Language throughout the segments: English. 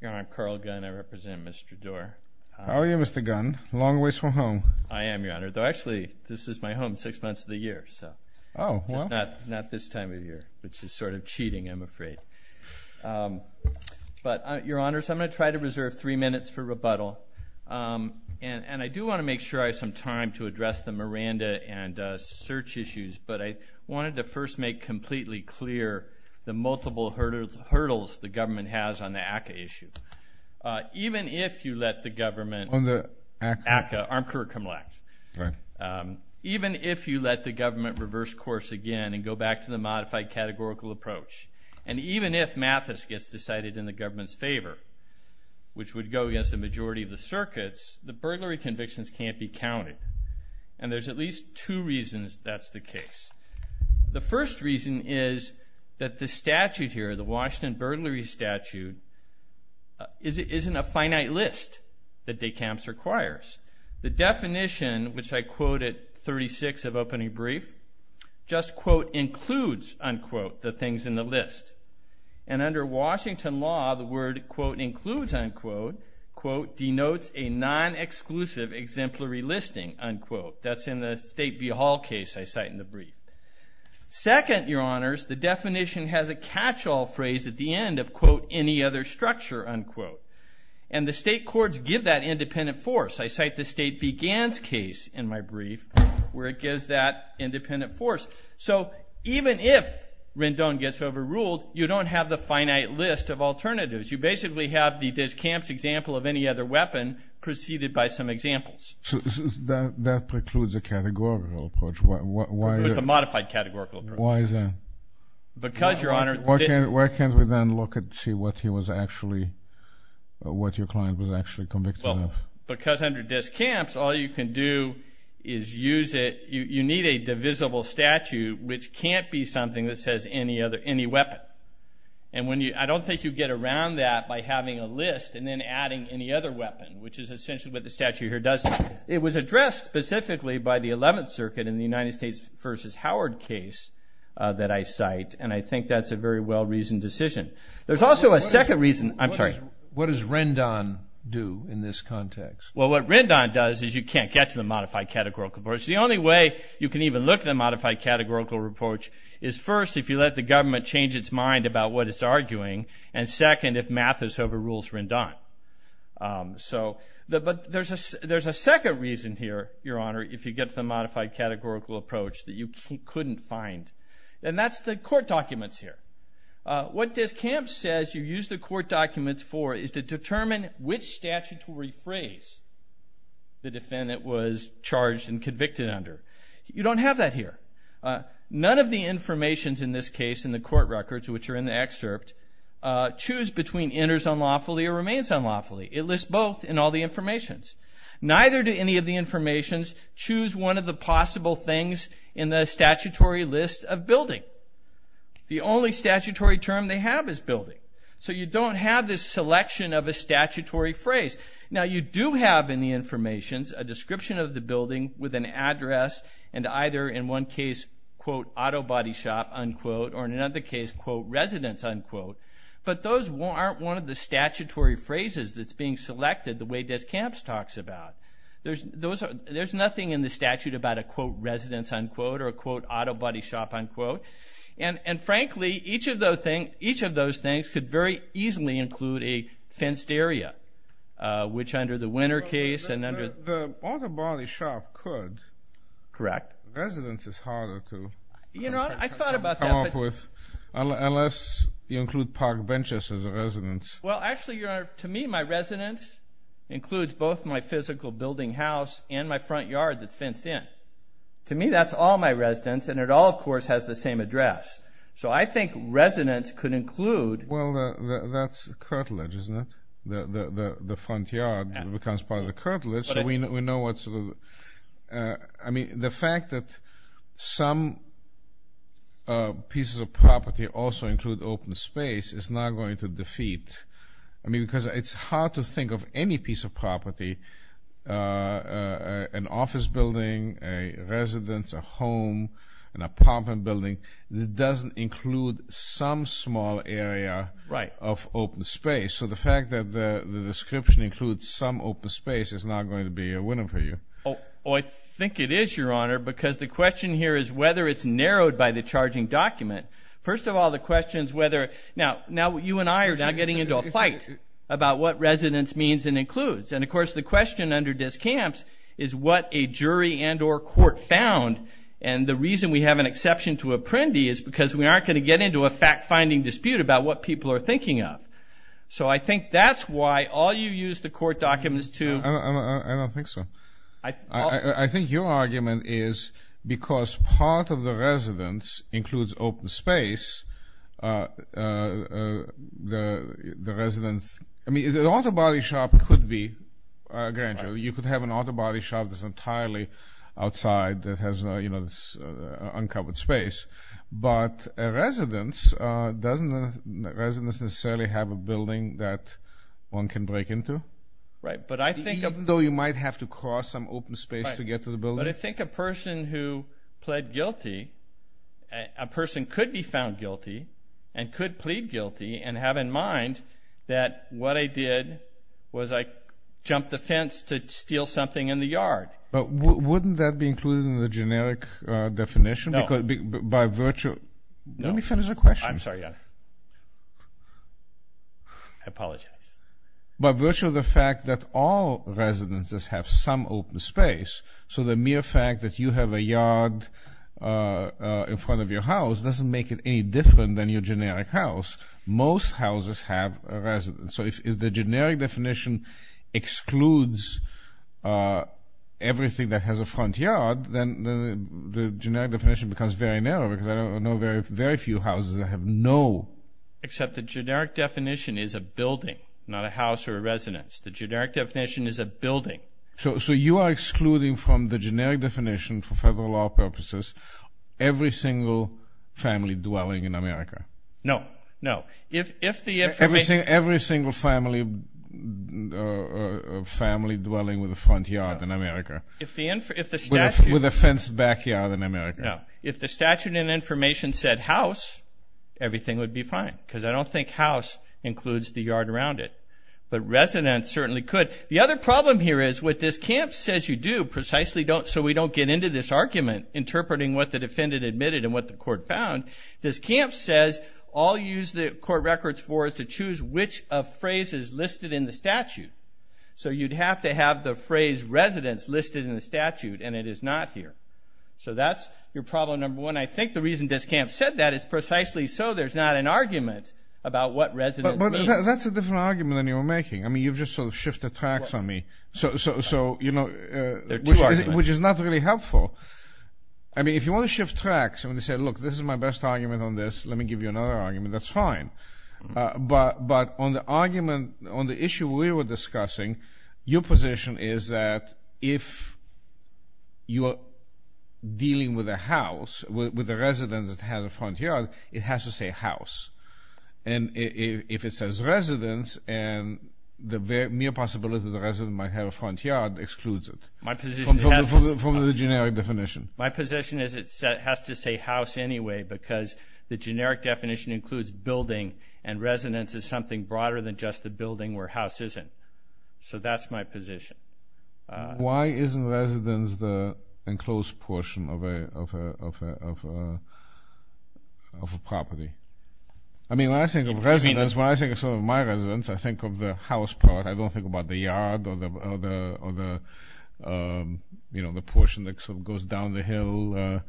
Your Honor, Carl Gunn. I represent Mr. Door. How are you, Mr. Gunn? Long ways from home. I am, Your Honor, though actually this is my home six months of the year. Oh, well. Not this time of year, which is sort of cheating, I'm afraid. But, Your Honors, I'm going to try to reserve three minutes for rebuttal. And I do want to make sure I have some time to address the Miranda and search issues. But I wanted to first make completely clear the multiple hurdles the government has on the ACCA issue. Even if you let the government. On the ACCA? ACCA, Armed Career Criminal Act. Right. Even if you let the government reverse course again and go back to the modified categorical approach, and even if Mathis gets decided in the government's favor, which would go against the majority of the circuits, the burglary convictions can't be counted. And there's at least two reasons that's the case. The first reason is that the statute here, the Washington burglary statute, isn't a finite list that DECAMS requires. The definition, which I quote at 36 of opening brief, just, quote, includes, unquote, the things in the list. And under Washington law, the word, quote, includes, unquote, quote, denotes a non-exclusive exemplary listing, unquote. That's in the State v. Hall case I cite in the brief. Second, Your Honors, the definition has a catch-all phrase at the end of, quote, any other structure, unquote. And the state courts give that independent force. I cite the State v. Ganz case in my brief where it gives that independent force. So even if Rendon gets overruled, you don't have the finite list of alternatives. You basically have the DECAMS example of any other weapon preceded by some examples. So that precludes a categorical approach. It's a modified categorical approach. Why is that? Because, Your Honor, Why can't we then look and see what he was actually, what your client was actually convicted of? Because under DECAMS, all you can do is use it. You need a divisible statute, which can't be something that says any other, any weapon. And when you, I don't think you get around that by having a list and then adding any other weapon, which is essentially what the statute here does. It was addressed specifically by the 11th Circuit in the United States v. Howard case that I cite. And I think that's a very well-reasoned decision. There's also a second reason. I'm sorry. What does Rendon do in this context? Well, what Rendon does is you can't get to the modified categorical approach. The only way you can even look at a modified categorical approach is, first, if you let the government change its mind about what it's arguing, and, second, if Mathis overrules Rendon. So, but there's a second reason here, Your Honor, if you get to the modified categorical approach that you couldn't find, and that's the court documents here. What DesCamps says you use the court documents for is to determine which statutory phrase the defendant was charged and convicted under. You don't have that here. None of the informations in this case in the court records, which are in the excerpt, choose between enters unlawfully or remains unlawfully. It lists both in all the informations. Neither do any of the informations choose one of the possible things in the statutory list of building. The only statutory term they have is building. So you don't have this selection of a statutory phrase. Now, you do have in the informations a description of the building with an address, and either in one case, quote, auto body shop, unquote, or in another case, quote, residence, unquote. But those aren't one of the statutory phrases that's being selected the way DesCamps talks about. There's nothing in the statute about a, quote, residence, unquote, or a, quote, auto body shop, unquote. And, frankly, each of those things could very easily include a fenced area, which under the winner case and under the- The auto body shop could. Correct. Residence is harder to come up with unless you include park benches as a residence. Well, actually, Your Honor, to me, my residence includes both my physical building house and my front yard that's fenced in. To me, that's all my residence, and it all, of course, has the same address. So I think residence could include- Well, that's a curtilage, isn't it? The front yard becomes part of the curtilage. I mean, the fact that some pieces of property also include open space is not going to defeat- I mean, because it's hard to think of any piece of property, an office building, a residence, a home, an apartment building, that doesn't include some small area of open space. So the fact that the description includes some open space is not going to be a winner for you. Oh, I think it is, Your Honor, because the question here is whether it's narrowed by the charging document. First of all, the question is whether- Now, you and I are now getting into a fight about what residence means and includes. And, of course, the question under discamps is what a jury and or court found. And the reason we have an exception to apprendi is because we aren't going to get into a fact-finding dispute about what people are thinking of. So I think that's why all you use the court documents to- I don't think so. I think your argument is because part of the residence includes open space, the residence- I mean, the auto body shop could be a grand jury. You could have an auto body shop that's entirely outside that has, you know, uncovered space. But a residence doesn't necessarily have a building that one can break into. Right. But I think- Even though you might have to cross some open space to get to the building. But I think a person who pled guilty, a person could be found guilty and could plead guilty and have in mind that what I did was I jumped the fence to steal something in the yard. But wouldn't that be included in the generic definition? No. Let me finish the question. I'm sorry. I apologize. By virtue of the fact that all residences have some open space, so the mere fact that you have a yard in front of your house doesn't make it any different than your generic house. Most houses have a residence. So if the generic definition excludes everything that has a front yard, then the generic definition becomes very narrow because I know very few houses that have no- Except the generic definition is a building, not a house or a residence. The generic definition is a building. So you are excluding from the generic definition for federal law purposes every single family dwelling in America? No. No. Every single family dwelling with a front yard in America. If the statute- With a fenced backyard in America. No. If the statute and information said house, everything would be fine because I don't think house includes the yard around it. But residence certainly could. But the other problem here is what Discamp says you do, precisely so we don't get into this argument interpreting what the defendant admitted and what the court found, Discamp says all you use the court records for is to choose which of phrases listed in the statute. So you'd have to have the phrase residence listed in the statute, and it is not here. So that's your problem number one. I think the reason Discamp said that is precisely so there's not an argument about what residence means. But that's a different argument than you were making. I mean, you've just sort of shifted tracks on me, which is not really helpful. I mean, if you want to shift tracks and want to say, look, this is my best argument on this, let me give you another argument, that's fine. But on the argument, on the issue we were discussing, your position is that if you are dealing with a house, with a residence that has a front yard, it has to say house. And if it says residence, and the mere possibility that the resident might have a front yard excludes it from the generic definition. My position is it has to say house anyway because the generic definition includes building, and residence is something broader than just the building where house isn't. Why isn't residence the enclosed portion of a property? I mean, when I think of residence, when I think of sort of my residence, I think of the house part. I don't think about the yard or the portion that sort of goes down the hill.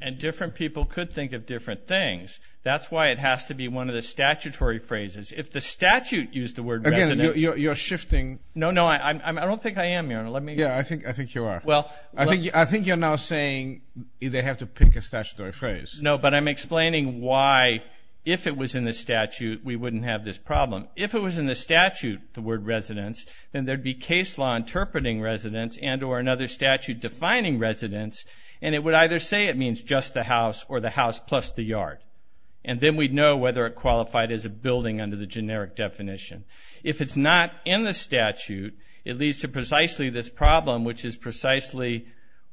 And different people could think of different things. That's why it has to be one of the statutory phrases. If the statute used the word residence. Again, you're shifting. No, no, I don't think I am. Yeah, I think you are. Well. I think you're now saying they have to pick a statutory phrase. No, but I'm explaining why if it was in the statute, we wouldn't have this problem. If it was in the statute, the word residence, then there would be case law interpreting residence and or another statute defining residence, and it would either say it means just the house or the house plus the yard. And then we'd know whether it qualified as a building under the generic definition. If it's not in the statute, it leads to precisely this problem, which is precisely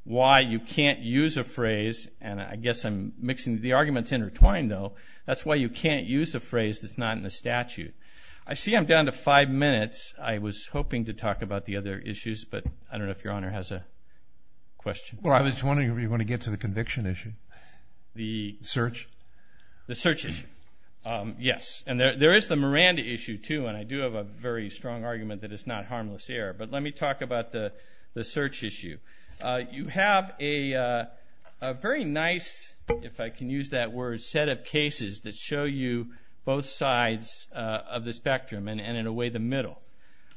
why you can't use a phrase. And I guess I'm mixing the arguments intertwined, though. That's why you can't use a phrase that's not in the statute. I see I'm down to five minutes. I was hoping to talk about the other issues, but I don't know if Your Honor has a question. Well, I was wondering if you want to get to the conviction issue. The search? The search issue, yes. And there is the Miranda issue, too, and I do have a very strong argument that it's not harmless error. But let me talk about the search issue. You have a very nice, if I can use that word, set of cases that show you both sides of the spectrum and, in a way, the middle.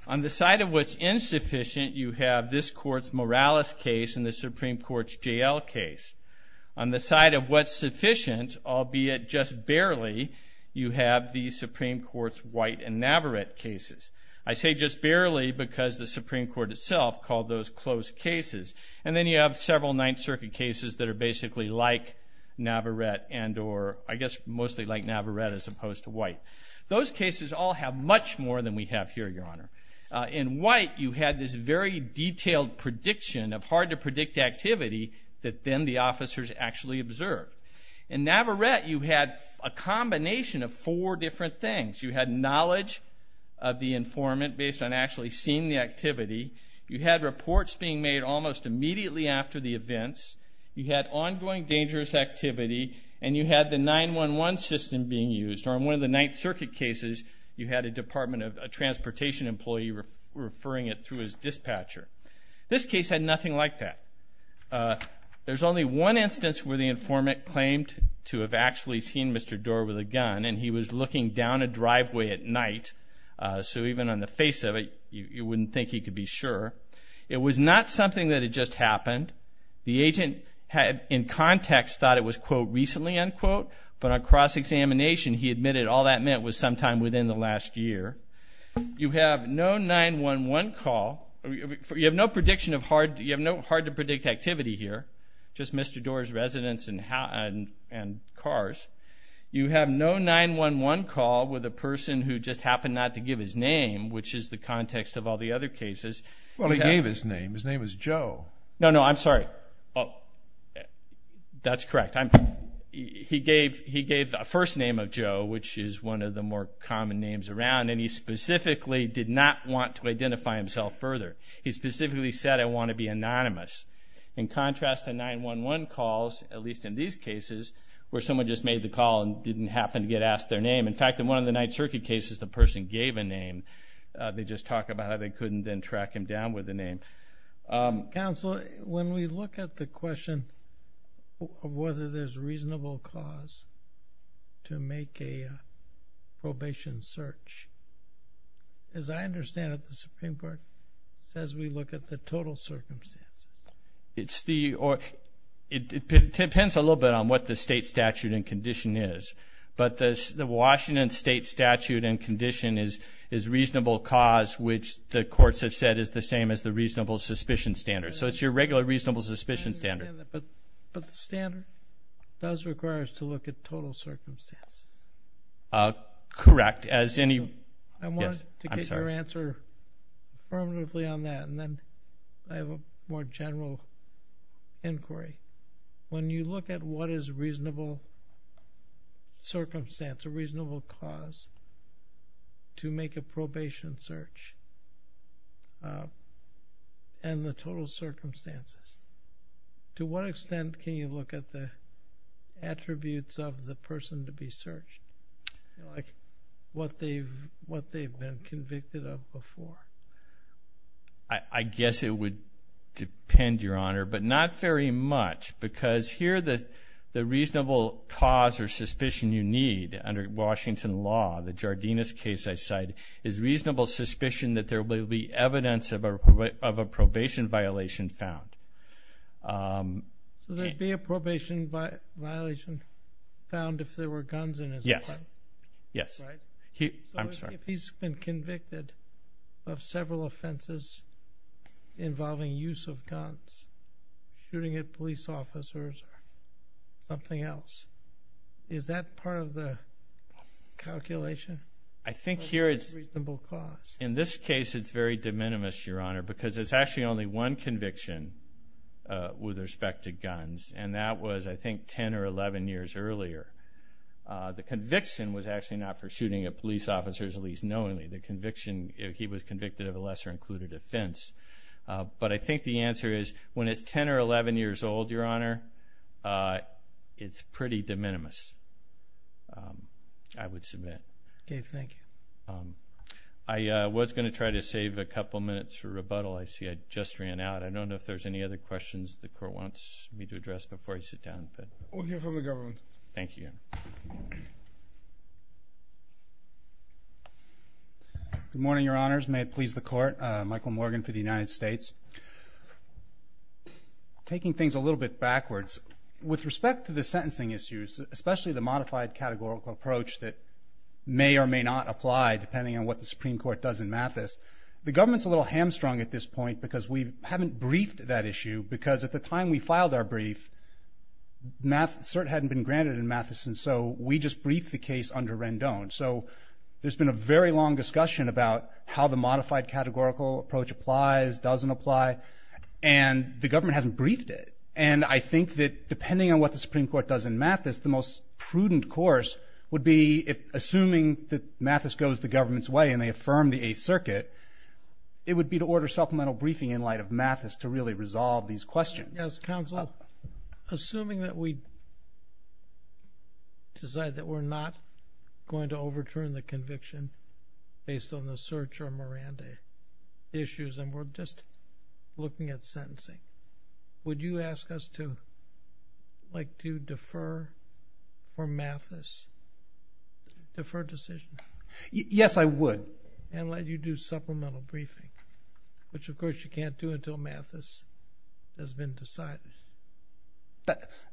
On the side of what's insufficient, you have this Court's Morales case and the Supreme Court's J.L. case. On the side of what's sufficient, albeit just barely, you have the Supreme Court's White and Navarrete cases. I say just barely because the Supreme Court itself called those closed cases. And then you have several Ninth Circuit cases that are basically like Navarrete and or, I guess, mostly like Navarrete as opposed to White. Those cases all have much more than we have here, Your Honor. In White, you had this very detailed prediction of hard-to-predict activity that then the officers actually observed. In Navarrete, you had a combination of four different things. You had knowledge of the informant based on actually seeing the activity. You had reports being made almost immediately after the events. You had ongoing dangerous activity, and you had the 911 system being used. On one of the Ninth Circuit cases, you had a Department of Transportation employee referring it through his dispatcher. This case had nothing like that. There's only one instance where the informant claimed to have actually seen Mr. Doar with a gun, and he was looking down a driveway at night, so even on the face of it, you wouldn't think he could be sure. It was not something that had just happened. The agent, in context, thought it was, quote, recently, unquote, but on cross-examination, he admitted all that meant was sometime within the last year. You have no 911 call. You have no prediction of hard-to-predict activity here, just Mr. Doar's residence and cars. You have no 911 call with a person who just happened not to give his name, which is the context of all the other cases. His name is Joe. No, no, I'm sorry. That's correct. He gave the first name of Joe, which is one of the more common names around, and he specifically did not want to identify himself further. He specifically said, I want to be anonymous. In contrast to 911 calls, at least in these cases, where someone just made the call and didn't happen to get asked their name. In fact, in one of the Ninth Circuit cases, the person gave a name. They just talk about how they couldn't then track him down with a name. Counsel, when we look at the question of whether there's reasonable cause to make a probation search, as I understand it, the Supreme Court says we look at the total circumstances. It depends a little bit on what the state statute and condition is, but the Washington state statute and condition is reasonable cause, which the courts have said is the same as the reasonable suspicion standard. So it's your regular reasonable suspicion standard. But the standard does require us to look at total circumstances. Correct. I wanted to get your answer affirmatively on that, and then I have a more general inquiry. When you look at what is a reasonable circumstance, a reasonable cause, to make a probation search and the total circumstances, to what extent can you look at the attributes of the person to be searched, like what they've been convicted of before? I guess it would depend, Your Honor, but not very much, because here the reasonable cause or suspicion you need under Washington law, the Jardinus case I cite, is reasonable suspicion that there will be evidence of a probation violation found. So there'd be a probation violation found if there were guns in his car? Yes. So if he's been convicted of several offenses involving use of guns, shooting at police officers or something else, is that part of the calculation? I think here it's, in this case, it's very de minimis, Your Honor, because there's actually only one conviction with respect to guns, and that was, I think, 10 or 11 years earlier. The conviction was actually not for shooting at police officers, at least knowingly. The conviction, he was convicted of a lesser-included offense. But I think the answer is, when it's 10 or 11 years old, Your Honor, it's pretty de minimis, I would submit. Okay, thank you. I was going to try to save a couple minutes for rebuttal. I see I just ran out. I don't know if there's any other questions the Court wants me to address before I sit down. We'll hear from the government. Thank you. Good morning, Your Honors. May it please the Court. Michael Morgan for the United States. Taking things a little bit backwards, with respect to the sentencing issues, especially the modified categorical approach that may or may not apply, depending on what the Supreme Court does in Mathis, the government's a little hamstrung at this point because we haven't briefed that issue because at the time we filed our brief, cert hadn't been granted in Mathis, and so we just briefed the case under Rendon. So there's been a very long discussion about how the modified categorical approach applies, doesn't apply, and the government hasn't briefed it. And I think that depending on what the Supreme Court does in Mathis, the most prudent course would be, assuming that Mathis goes the government's way and they affirm the Eighth Circuit, it would be to order supplemental briefing in light of Mathis to really resolve these questions. Yes, Counselor. Assuming that we decide that we're not going to overturn the conviction based on the cert or Miranda issues and we're just looking at sentencing, would you ask us to defer for Mathis, defer decision? Yes, I would. And let you do supplemental briefing, which of course you can't do until Mathis has been decided.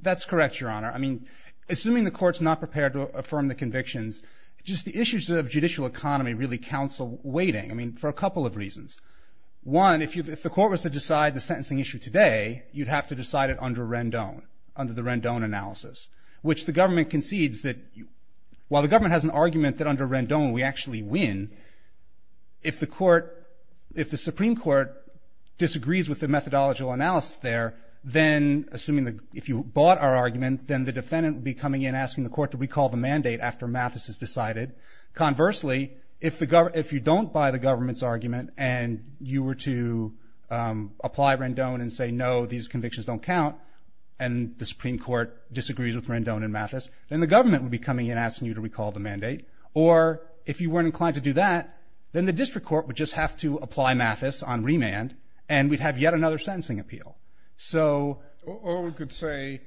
That's correct, Your Honor. I mean, assuming the Court's not prepared to affirm the convictions, just the issues of judicial economy really counsel waiting, I mean, for a couple of reasons. One, if the Court was to decide the sentencing issue today, you'd have to decide it under Rendon, under the Rendon analysis, which the government concedes that while the government has an argument that under Rendon we actually win, if the Supreme Court disagrees with the methodological analysis there, then assuming that if you bought our argument, then the defendant would be coming in asking the Court to recall the mandate after Mathis is decided. Conversely, if you don't buy the government's argument and you were to apply Rendon and say, no, these convictions don't count, and the Supreme Court disagrees with Rendon and Mathis, then the government would be coming in asking you to recall the mandate. Or if you weren't inclined to do that, then the district court would just have to apply Mathis on remand and we'd have yet another sentencing appeal. Or we could say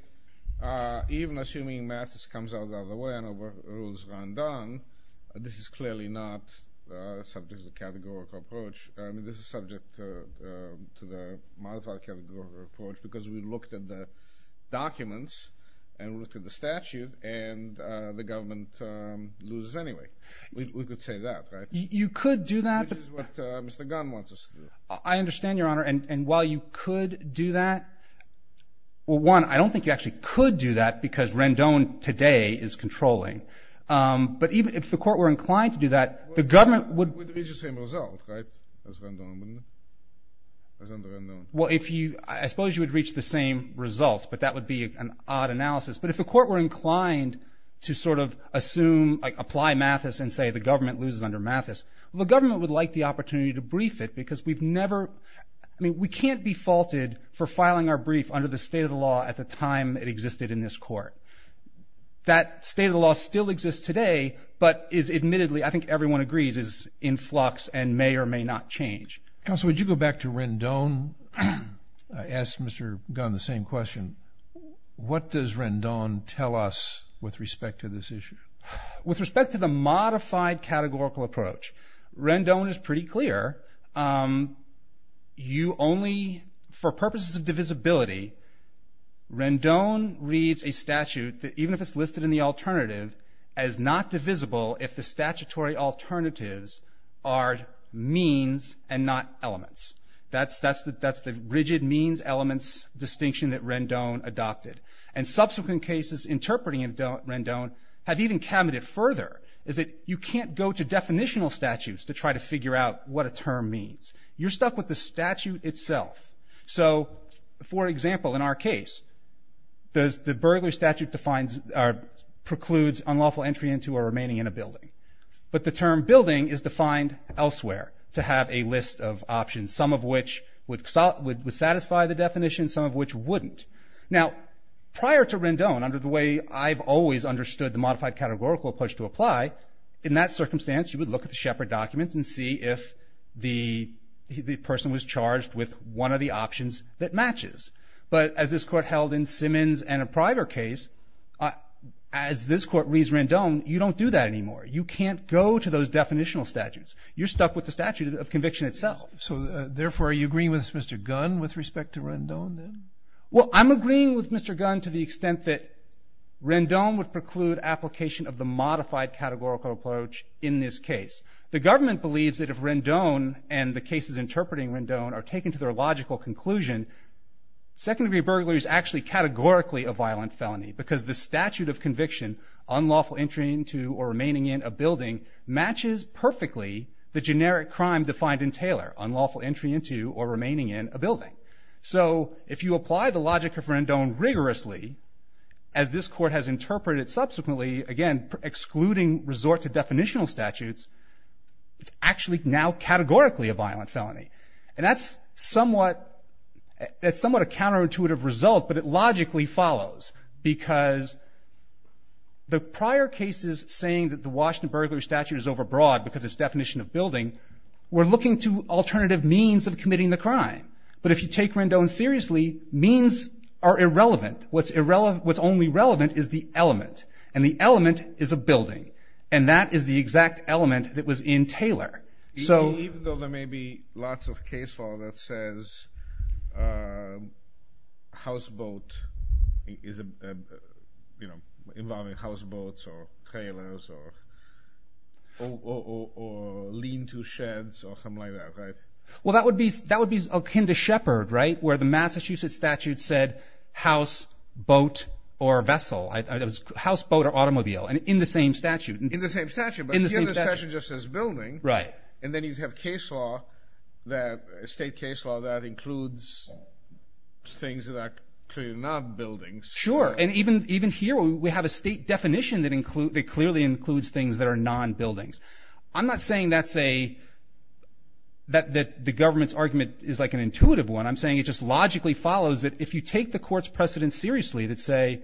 even assuming Mathis comes out the other way and overrules Rendon, this is clearly not subject to the categorical approach. I mean, this is subject to the modified categorical approach because we looked at the documents and looked at the statute and the government loses anyway. We could say that, right? You could do that. Which is what Mr. Gunn wants us to do. I understand, Your Honor. And while you could do that, well, one, I don't think you actually could do that because Rendon today is controlling. But if the court were inclined to do that, the government would... Would reach the same result, right, as Rendon would? Well, I suppose you would reach the same result, but that would be an odd analysis. But if the court were inclined to sort of assume, like apply Mathis and say the government loses under Mathis, the government would like the opportunity to brief it because we've never... I mean, we can't be faulted for filing our brief under the state of the law at the time it existed in this court. That state of the law still exists today, but is admittedly, I think everyone agrees, is in flux and may or may not change. Counsel, would you go back to Rendon? I asked Mr. Gunn the same question. What does Rendon tell us with respect to this issue? With respect to the modified categorical approach, Rendon is pretty clear. You only, for purposes of divisibility, Rendon reads a statute, even if it's listed in the alternative, as not divisible if the statutory alternatives are means and not elements. That's the rigid means-elements distinction that Rendon adopted. And subsequent cases interpreting Rendon have even cavited further, is that you can't go to definitional statutes to try to figure out what a term means. You're stuck with the statute itself. So, for example, in our case, the burglary statute defines or precludes unlawful entry into or remaining in a building. But the term building is defined elsewhere to have a list of options, some of which would satisfy the definition, some of which wouldn't. Now, prior to Rendon, under the way I've always understood the modified categorical approach to apply, in that circumstance you would look at the Shepard documents and see if the person was charged with one of the options that matches. But as this Court held in Simmons and a prior case, as this Court reads Rendon, you don't do that anymore. You can't go to those definitional statutes. You're stuck with the statute of conviction itself. So, therefore, are you agreeing with Mr. Gunn with respect to Rendon, then? Well, I'm agreeing with Mr. Gunn to the extent that Rendon would preclude application of the modified categorical approach in this case. The government believes that if Rendon and the cases interpreting Rendon are taken to their logical conclusion, second-degree burglary is actually categorically a violent felony because the statute of conviction, unlawful entry into or remaining in a building, matches perfectly the generic crime defined in Taylor, unlawful entry into or remaining in a building. So if you apply the logic of Rendon rigorously, as this Court has interpreted subsequently, again, excluding resort to definitional statutes, it's actually now categorically a violent felony. And that's somewhat a counterintuitive result, but it logically follows, because the prior cases saying that the Washington burglary statute is overbroad because its definition of building, we're looking to alternative means of committing the crime. But if you take Rendon seriously, means are irrelevant. What's only relevant is the element, and the element is a building, and that is the exact element that was in Taylor. Even though there may be lots of case law that says houseboat is involving houseboats or trailers or lean-to sheds or something like that, right? Well, that would be akin to Shepard, right, where the Massachusetts statute said house, boat, or vessel. House, boat, or automobile in the same statute. In the same statute, but the other statute just says building. Right. And then you'd have state case law that includes things that are clearly not buildings. Sure. And even here we have a state definition that clearly includes things that are non-buildings. I'm not saying that the government's argument is like an intuitive one. I'm saying it just logically follows that if you take the Court's precedent seriously, that say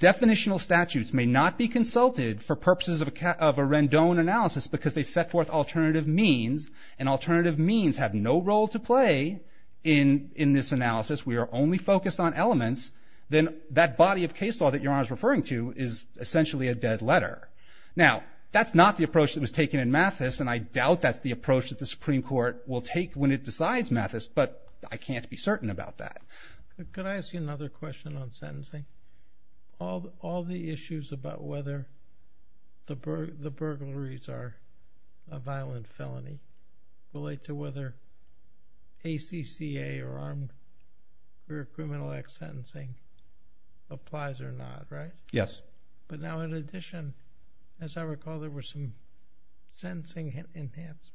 definitional statutes may not be consulted for purposes of a Rendon analysis because they set forth alternative means, and alternative means have no role to play in this analysis. We are only focused on elements. Then that body of case law that Your Honor is referring to is essentially a dead letter. Now, that's not the approach that was taken in Mathis, and I doubt that's the approach that the Supreme Court will take when it decides Mathis, but I can't be certain about that. Could I ask you another question on sentencing? All the issues about whether the burglaries are a violent felony relate to whether ACCA or Armed Career Criminal Act sentencing applies or not, right? Yes. But now in addition, as I recall, there were some sentencing enhancements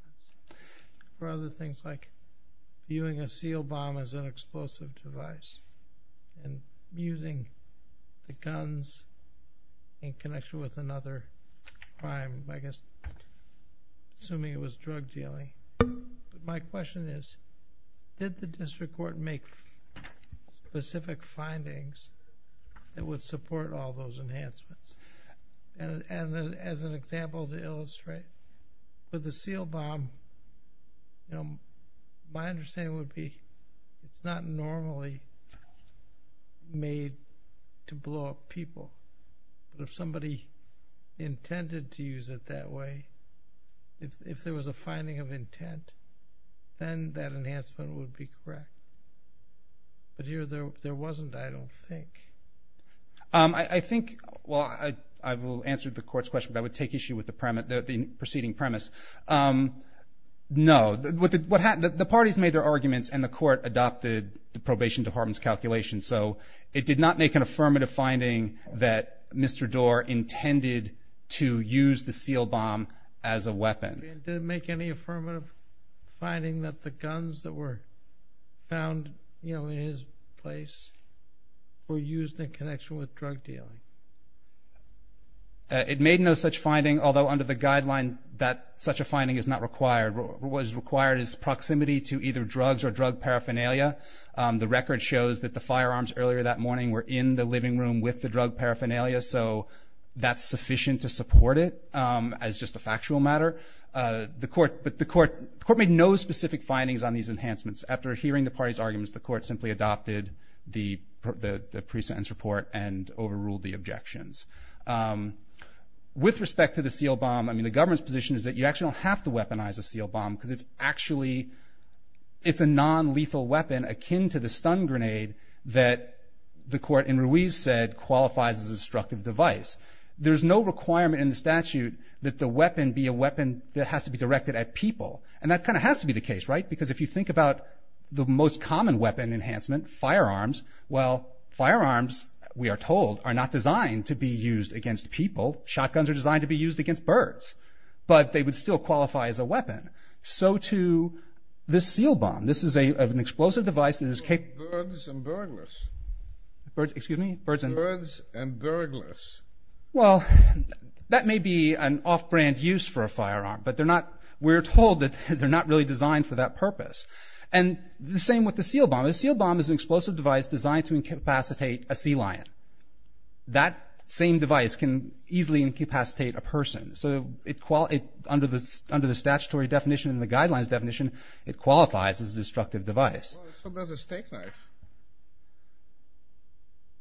for other things like viewing a seal bomb as an explosive device and using the guns in connection with another crime, I guess assuming it was drug dealing. My question is, did the district court make specific findings that would support all those enhancements? And as an example to illustrate, with the seal bomb, my understanding would be it's not normally made to blow up people. If somebody intended to use it that way, if there was a finding of intent, then that enhancement would be correct. But here there wasn't, I don't think. I think, well, I will answer the court's question, but I would take issue with the preceding premise. No. What happened, the parties made their arguments and the court adopted the probation department's calculation. So it did not make an affirmative finding that Mr. Doar intended to use the seal bomb as a weapon. Did it make any affirmative finding that the guns that were found, you know, in his place were used in connection with drug dealing? It made no such finding, although under the guideline that such a finding is not required. What is required is proximity to either drugs or drug paraphernalia. The record shows that the firearms earlier that morning were in the living room with the drug paraphernalia, so that's sufficient to support it as just a factual matter. But the court made no specific findings on these enhancements. After hearing the parties' arguments, the court simply adopted the pre-sentence report and overruled the objections. With respect to the seal bomb, I mean, the government's position is that you actually don't have to weaponize a seal bomb because it's actually, it's a non-lethal weapon akin to the stun grenade that the court in Ruiz said qualifies as a destructive device. There's no requirement in the statute that the weapon be a weapon that has to be directed at people, and that kind of has to be the case, right? Because if you think about the most common weapon enhancement, firearms, well, firearms, we are told, are not designed to be used against people. Shotguns are designed to be used against birds, but they would still qualify as a weapon. So too the seal bomb. This is an explosive device that is capable of... Birds and burglars. Excuse me? Birds and burglars. Well, that may be an off-brand use for a firearm, but we're told that they're not really designed for that purpose. And the same with the seal bomb. The seal bomb is an explosive device designed to incapacitate a sea lion. That same device can easily incapacitate a person. So under the statutory definition and the guidelines definition, it qualifies as a destructive device. Well, so does a steak knife.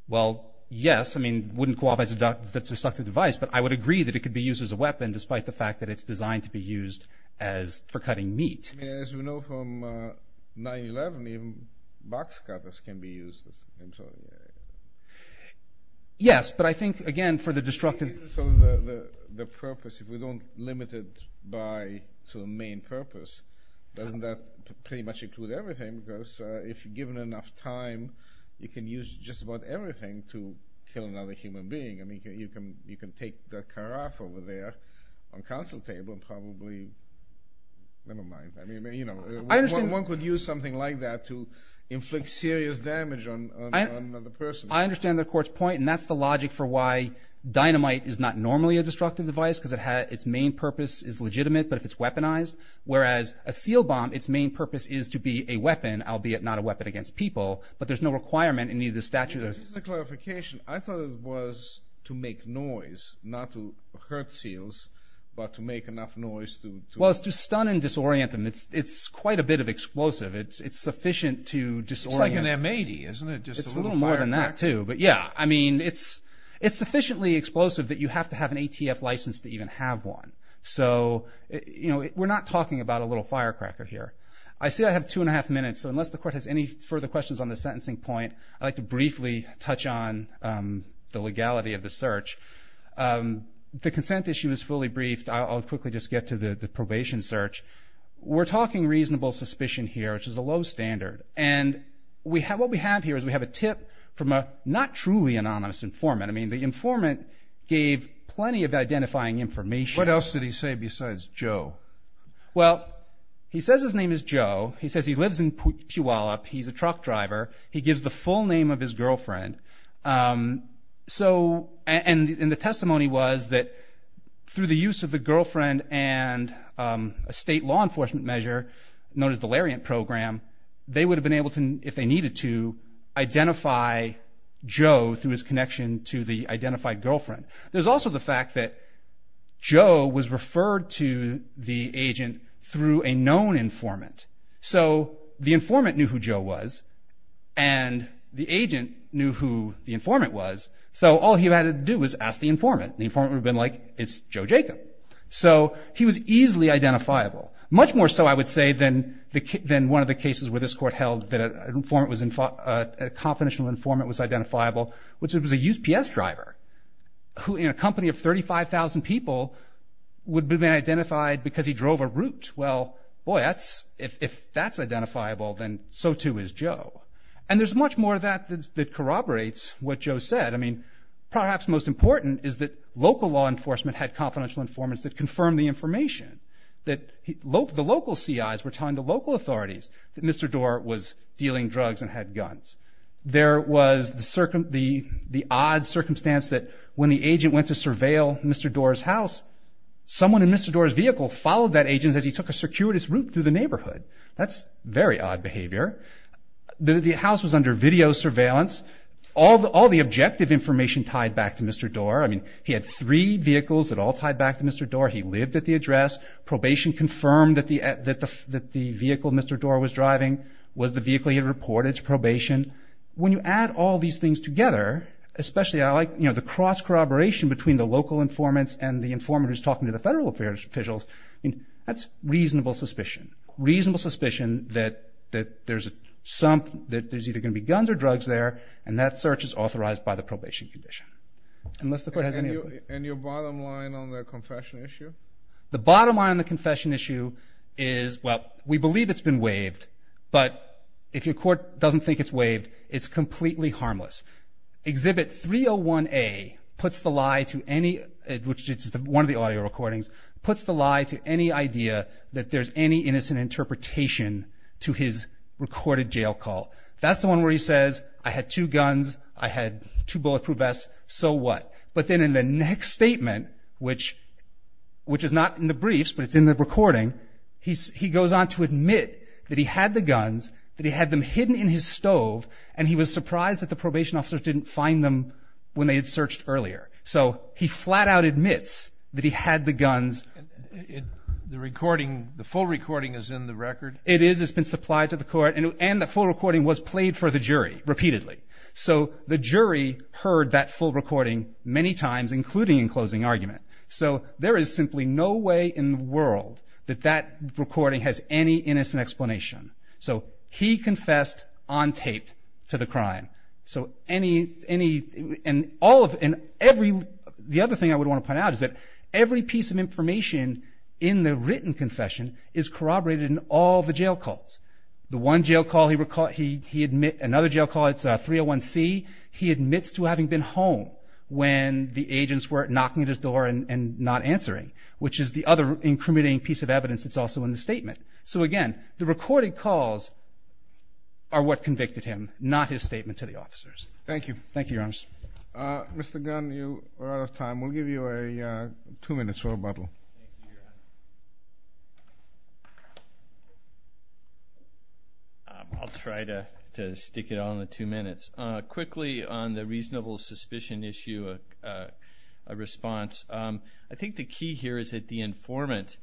Well, yes, I mean, it wouldn't qualify as a destructive device, but I would agree that it could be used as a weapon despite the fact that it's designed to be used for cutting meat. As we know from 9-11, even box cutters can be used. Yes, but I think, again, for the destructive... The purpose, if we don't limit it to the main purpose, doesn't that pretty much include everything? Because if you're given enough time, you can use just about everything to kill another human being. I mean, you can take the carafe over there on council table and probably... Never mind. One could use something like that to inflict serious damage on another person. I understand the Court's point, and that's the logic for why dynamite is not normally a destructive device because its main purpose is legitimate, but if it's weaponized, whereas a seal bomb, its main purpose is to be a weapon, albeit not a weapon against people, but there's no requirement in either statute. Just a clarification. I thought it was to make noise, not to hurt seals, but to make enough noise to... Well, it's to stun and disorient them. It's quite a bit of explosive. It's sufficient to disorient... It's like an M-80, isn't it? It's a little more than that, too, but yeah. I mean, it's sufficiently explosive that you have to have an ATF license to even have one. So, you know, we're not talking about a little firecracker here. I see I have two and a half minutes, so unless the Court has any further questions on the sentencing point, I'd like to briefly touch on the legality of the search. The consent issue is fully briefed. I'll quickly just get to the probation search. We're talking reasonable suspicion here, which is a low standard, and what we have here is we have a tip from a not truly anonymous informant. I mean, the informant gave plenty of identifying information. What else did he say besides Joe? Well, he says his name is Joe. He says he lives in Puyallup. He's a truck driver. He gives the full name of his girlfriend. And the testimony was that through the use of the girlfriend and a state law enforcement measure known as the Lariat Program, they would have been able to, if they needed to, identify Joe through his connection to the identified girlfriend. There's also the fact that Joe was referred to the agent through a known informant. So the informant knew who Joe was, and the agent knew who the informant was, so all he had to do was ask the informant. The informant would have been like, it's Joe Jacob. So he was easily identifiable, much more so, I would say, than one of the cases where this court held that a confidential informant was identifiable, which was a USPS driver in a company of 35,000 people would have been identified because he drove a route. Well, boy, if that's identifiable, then so too is Joe. And there's much more of that that corroborates what Joe said. I mean, perhaps most important is that local law enforcement had confidential informants that confirmed the information, that the local CIs were telling the local authorities that Mr. Dorr was dealing drugs and had guns. There was the odd circumstance that when the agent went to surveil Mr. Dorr's house, someone in Mr. Dorr's vehicle followed that agent as he took a circuitous route through the neighborhood. That's very odd behavior. The house was under video surveillance. All the objective information tied back to Mr. Dorr. I mean, he had three vehicles that all tied back to Mr. Dorr. He lived at the address. Probation confirmed that the vehicle Mr. Dorr was driving was the vehicle he had reported to probation. When you add all these things together, especially I like the cross-corroboration between the local informants and the informant who's talking to the federal officials, that's reasonable suspicion. Reasonable suspicion that there's either going to be guns or drugs there, and that search is authorized by the probation condition. And your bottom line on the confession issue? The bottom line on the confession issue is, well, we believe it's been waived, but if your court doesn't think it's waived, it's completely harmless. Exhibit 301A puts the lie to any, which is one of the audio recordings, puts the lie to any idea that there's any innocent interpretation to his recorded jail call. That's the one where he says, I had two guns, I had two bulletproof vests, so what? But then in the next statement, which is not in the briefs but it's in the recording, he goes on to admit that he had the guns, that he had them hidden in his stove, and he was surprised that the probation officers didn't find them when they had searched earlier. So he flat-out admits that he had the guns. The recording, the full recording is in the record? It is. It's been supplied to the court. And the full recording was played for the jury repeatedly. So the jury heard that full recording many times, including in closing argument. So there is simply no way in the world that that recording has any innocent explanation. So he confessed on tape to the crime. So any, and all of, and every, the other thing I would want to point out is that every piece of information in the written confession is corroborated in all the jail calls. The one jail call he admits, another jail call, it's 301C, he admits to having been home when the agents were knocking at his door and not answering, which is the other incriminating piece of evidence that's also in the statement. So, again, the recorded calls are what convicted him, not his statement to the officers. Thank you. Thank you, Your Honor. Mr. Gunn, you are out of time. We'll give you a two-minute rebuttal. I'll try to stick it on the two minutes. Quickly, on the reasonable suspicion issue, a response. I think the key here is that the informant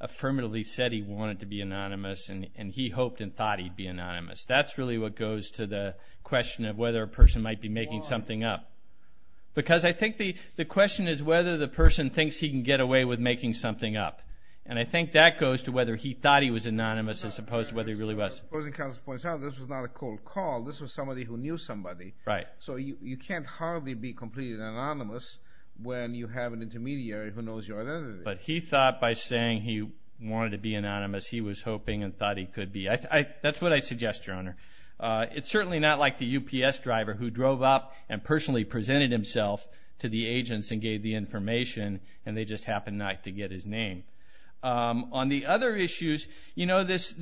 affirmatively said he wanted to be anonymous and he hoped and thought he'd be anonymous. That's really what goes to the question of whether a person might be making something up. Because I think the question is whether the person thinks he can get away with making something up. And I think that goes to whether he thought he was anonymous as opposed to whether he really was. Supposing counsel points out this was not a cold call, this was somebody who knew somebody. Right. So you can't hardly be completely anonymous when you have an intermediary who knows your identity. But he thought by saying he wanted to be anonymous, he was hoping and thought he could be. That's what I suggest, Your Honor. It's certainly not like the UPS driver who drove up and personally presented himself to the agents and gave the information and they just happened not to get his name. On the other issues, you know, this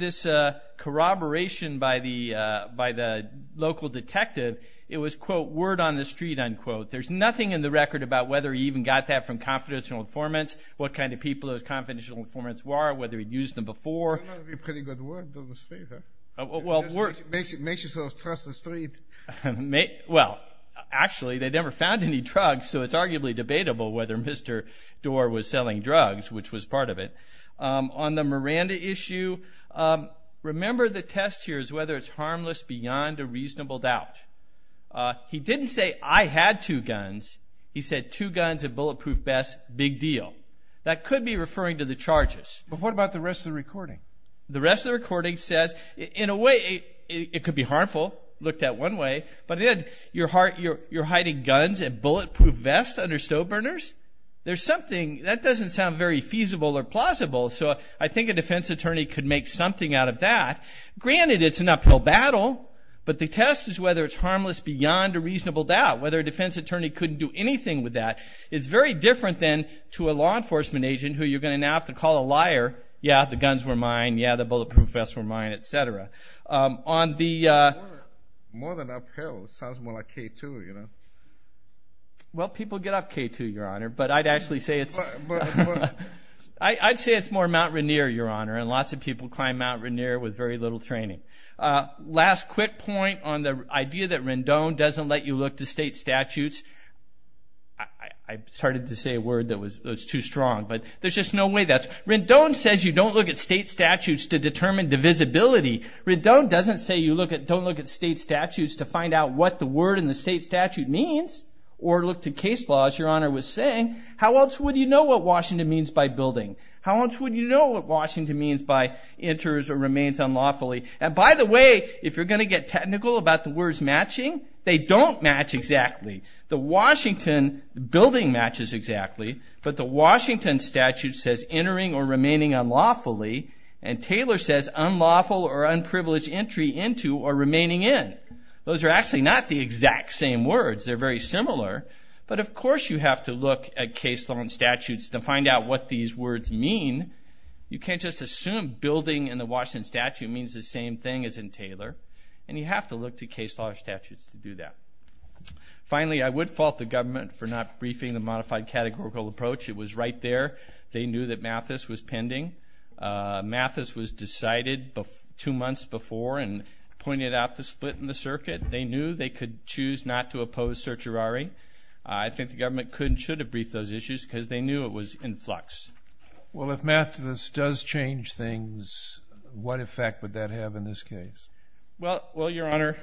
corroboration by the local detective, it was, quote, word on the street, unquote. There's nothing in the record about whether he even got that from confidential informants, what kind of people those confidential informants were, whether he'd used them before. That would be a pretty good word on the street, huh? Makes you sort of trust the street. Well, actually, they never found any drugs, so it's arguably debatable whether Mr. Doar was selling drugs, which was part of it. On the Miranda issue, remember the test here is whether it's harmless beyond a reasonable doubt. He didn't say, I had two guns. He said, two guns and bulletproof vests, big deal. That could be referring to the charges. But what about the rest of the recording? The rest of the recording says, in a way, it could be harmful, looked at one way, but then you're hiding guns and bulletproof vests under stove burners? There's something, that doesn't sound very feasible or plausible, so I think a defense attorney could make something out of that. Granted, it's an uphill battle, but the test is whether it's harmless beyond a reasonable doubt, whether a defense attorney couldn't do anything with that. It's very different then to a law enforcement agent who you're going to now have to call a liar, yeah, the guns were mine, yeah, the bulletproof vests were mine, et cetera. More than uphill, sounds more like K2, you know. Well, people get up K2, Your Honor, but I'd actually say it's more Mount Rainier, Your Honor, and lots of people climb Mount Rainier with very little training. Last quick point on the idea that Rendon doesn't let you look to state statutes. I started to say a word that was too strong, but there's just no way that's – Rendon says you don't look at state statutes to determine divisibility. Rendon doesn't say you don't look at state statutes to find out what the word in the state statute means or look to case laws. Your Honor was saying, how else would you know what Washington means by building? How else would you know what Washington means by enters or remains unlawfully? And by the way, if you're going to get technical about the words matching, they don't match exactly. The Washington building matches exactly, but the Washington statute says entering or remaining unlawfully, and Taylor says unlawful or unprivileged entry into or remaining in. Those are actually not the exact same words. They're very similar. But, of course, you have to look at case law and statutes to find out what these words mean. You can't just assume building in the Washington statute means the same thing as in Taylor, and you have to look to case law and statutes to do that. Finally, I would fault the government for not briefing the modified categorical approach. It was right there. They knew that Mathis was pending. Mathis was decided two months before and pointed out the split in the circuit. They knew they could choose not to oppose certiorari. I think the government should have briefed those issues because they knew it was in flux. Well, if Mathis does change things, what effect would that have in this case? Well, Your Honor,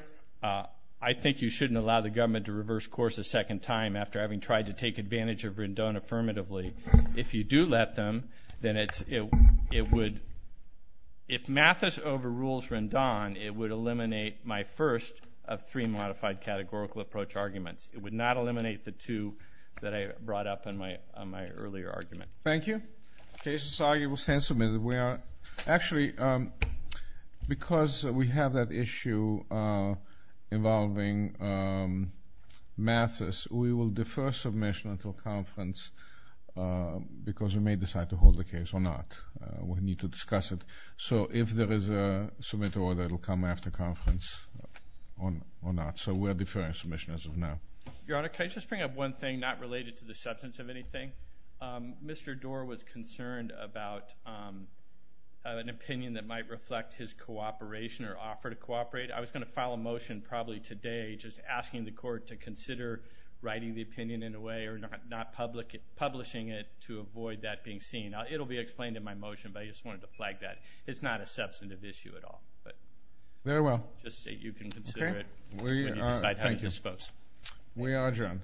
I think you shouldn't allow the government to reverse course a second time after having tried to take advantage of Rendon affirmatively. If you do let them, then it would ‑‑ if Mathis overrules Rendon, it would eliminate my first of three modified categorical approach arguments. It would not eliminate the two that I brought up in my earlier argument. Thank you. The case is argued. We'll stand submitted. Actually, because we have that issue involving Mathis, we will defer submission until conference because we may decide to hold the case or not. We need to discuss it. So if there is a submit order, it will come after conference or not. So we are deferring submission as of now. Your Honor, can I just bring up one thing not related to the substance of anything? Mr. Doar was concerned about an opinion that might reflect his cooperation or offer to cooperate. I was going to file a motion probably today just asking the court to consider writing the opinion in a way or not publishing it to avoid that being seen. It will be explained in my motion, but I just wanted to flag that. It's not a substantive issue at all. Very well. Just so you can consider it when you decide to have it disposed. We are adjourned.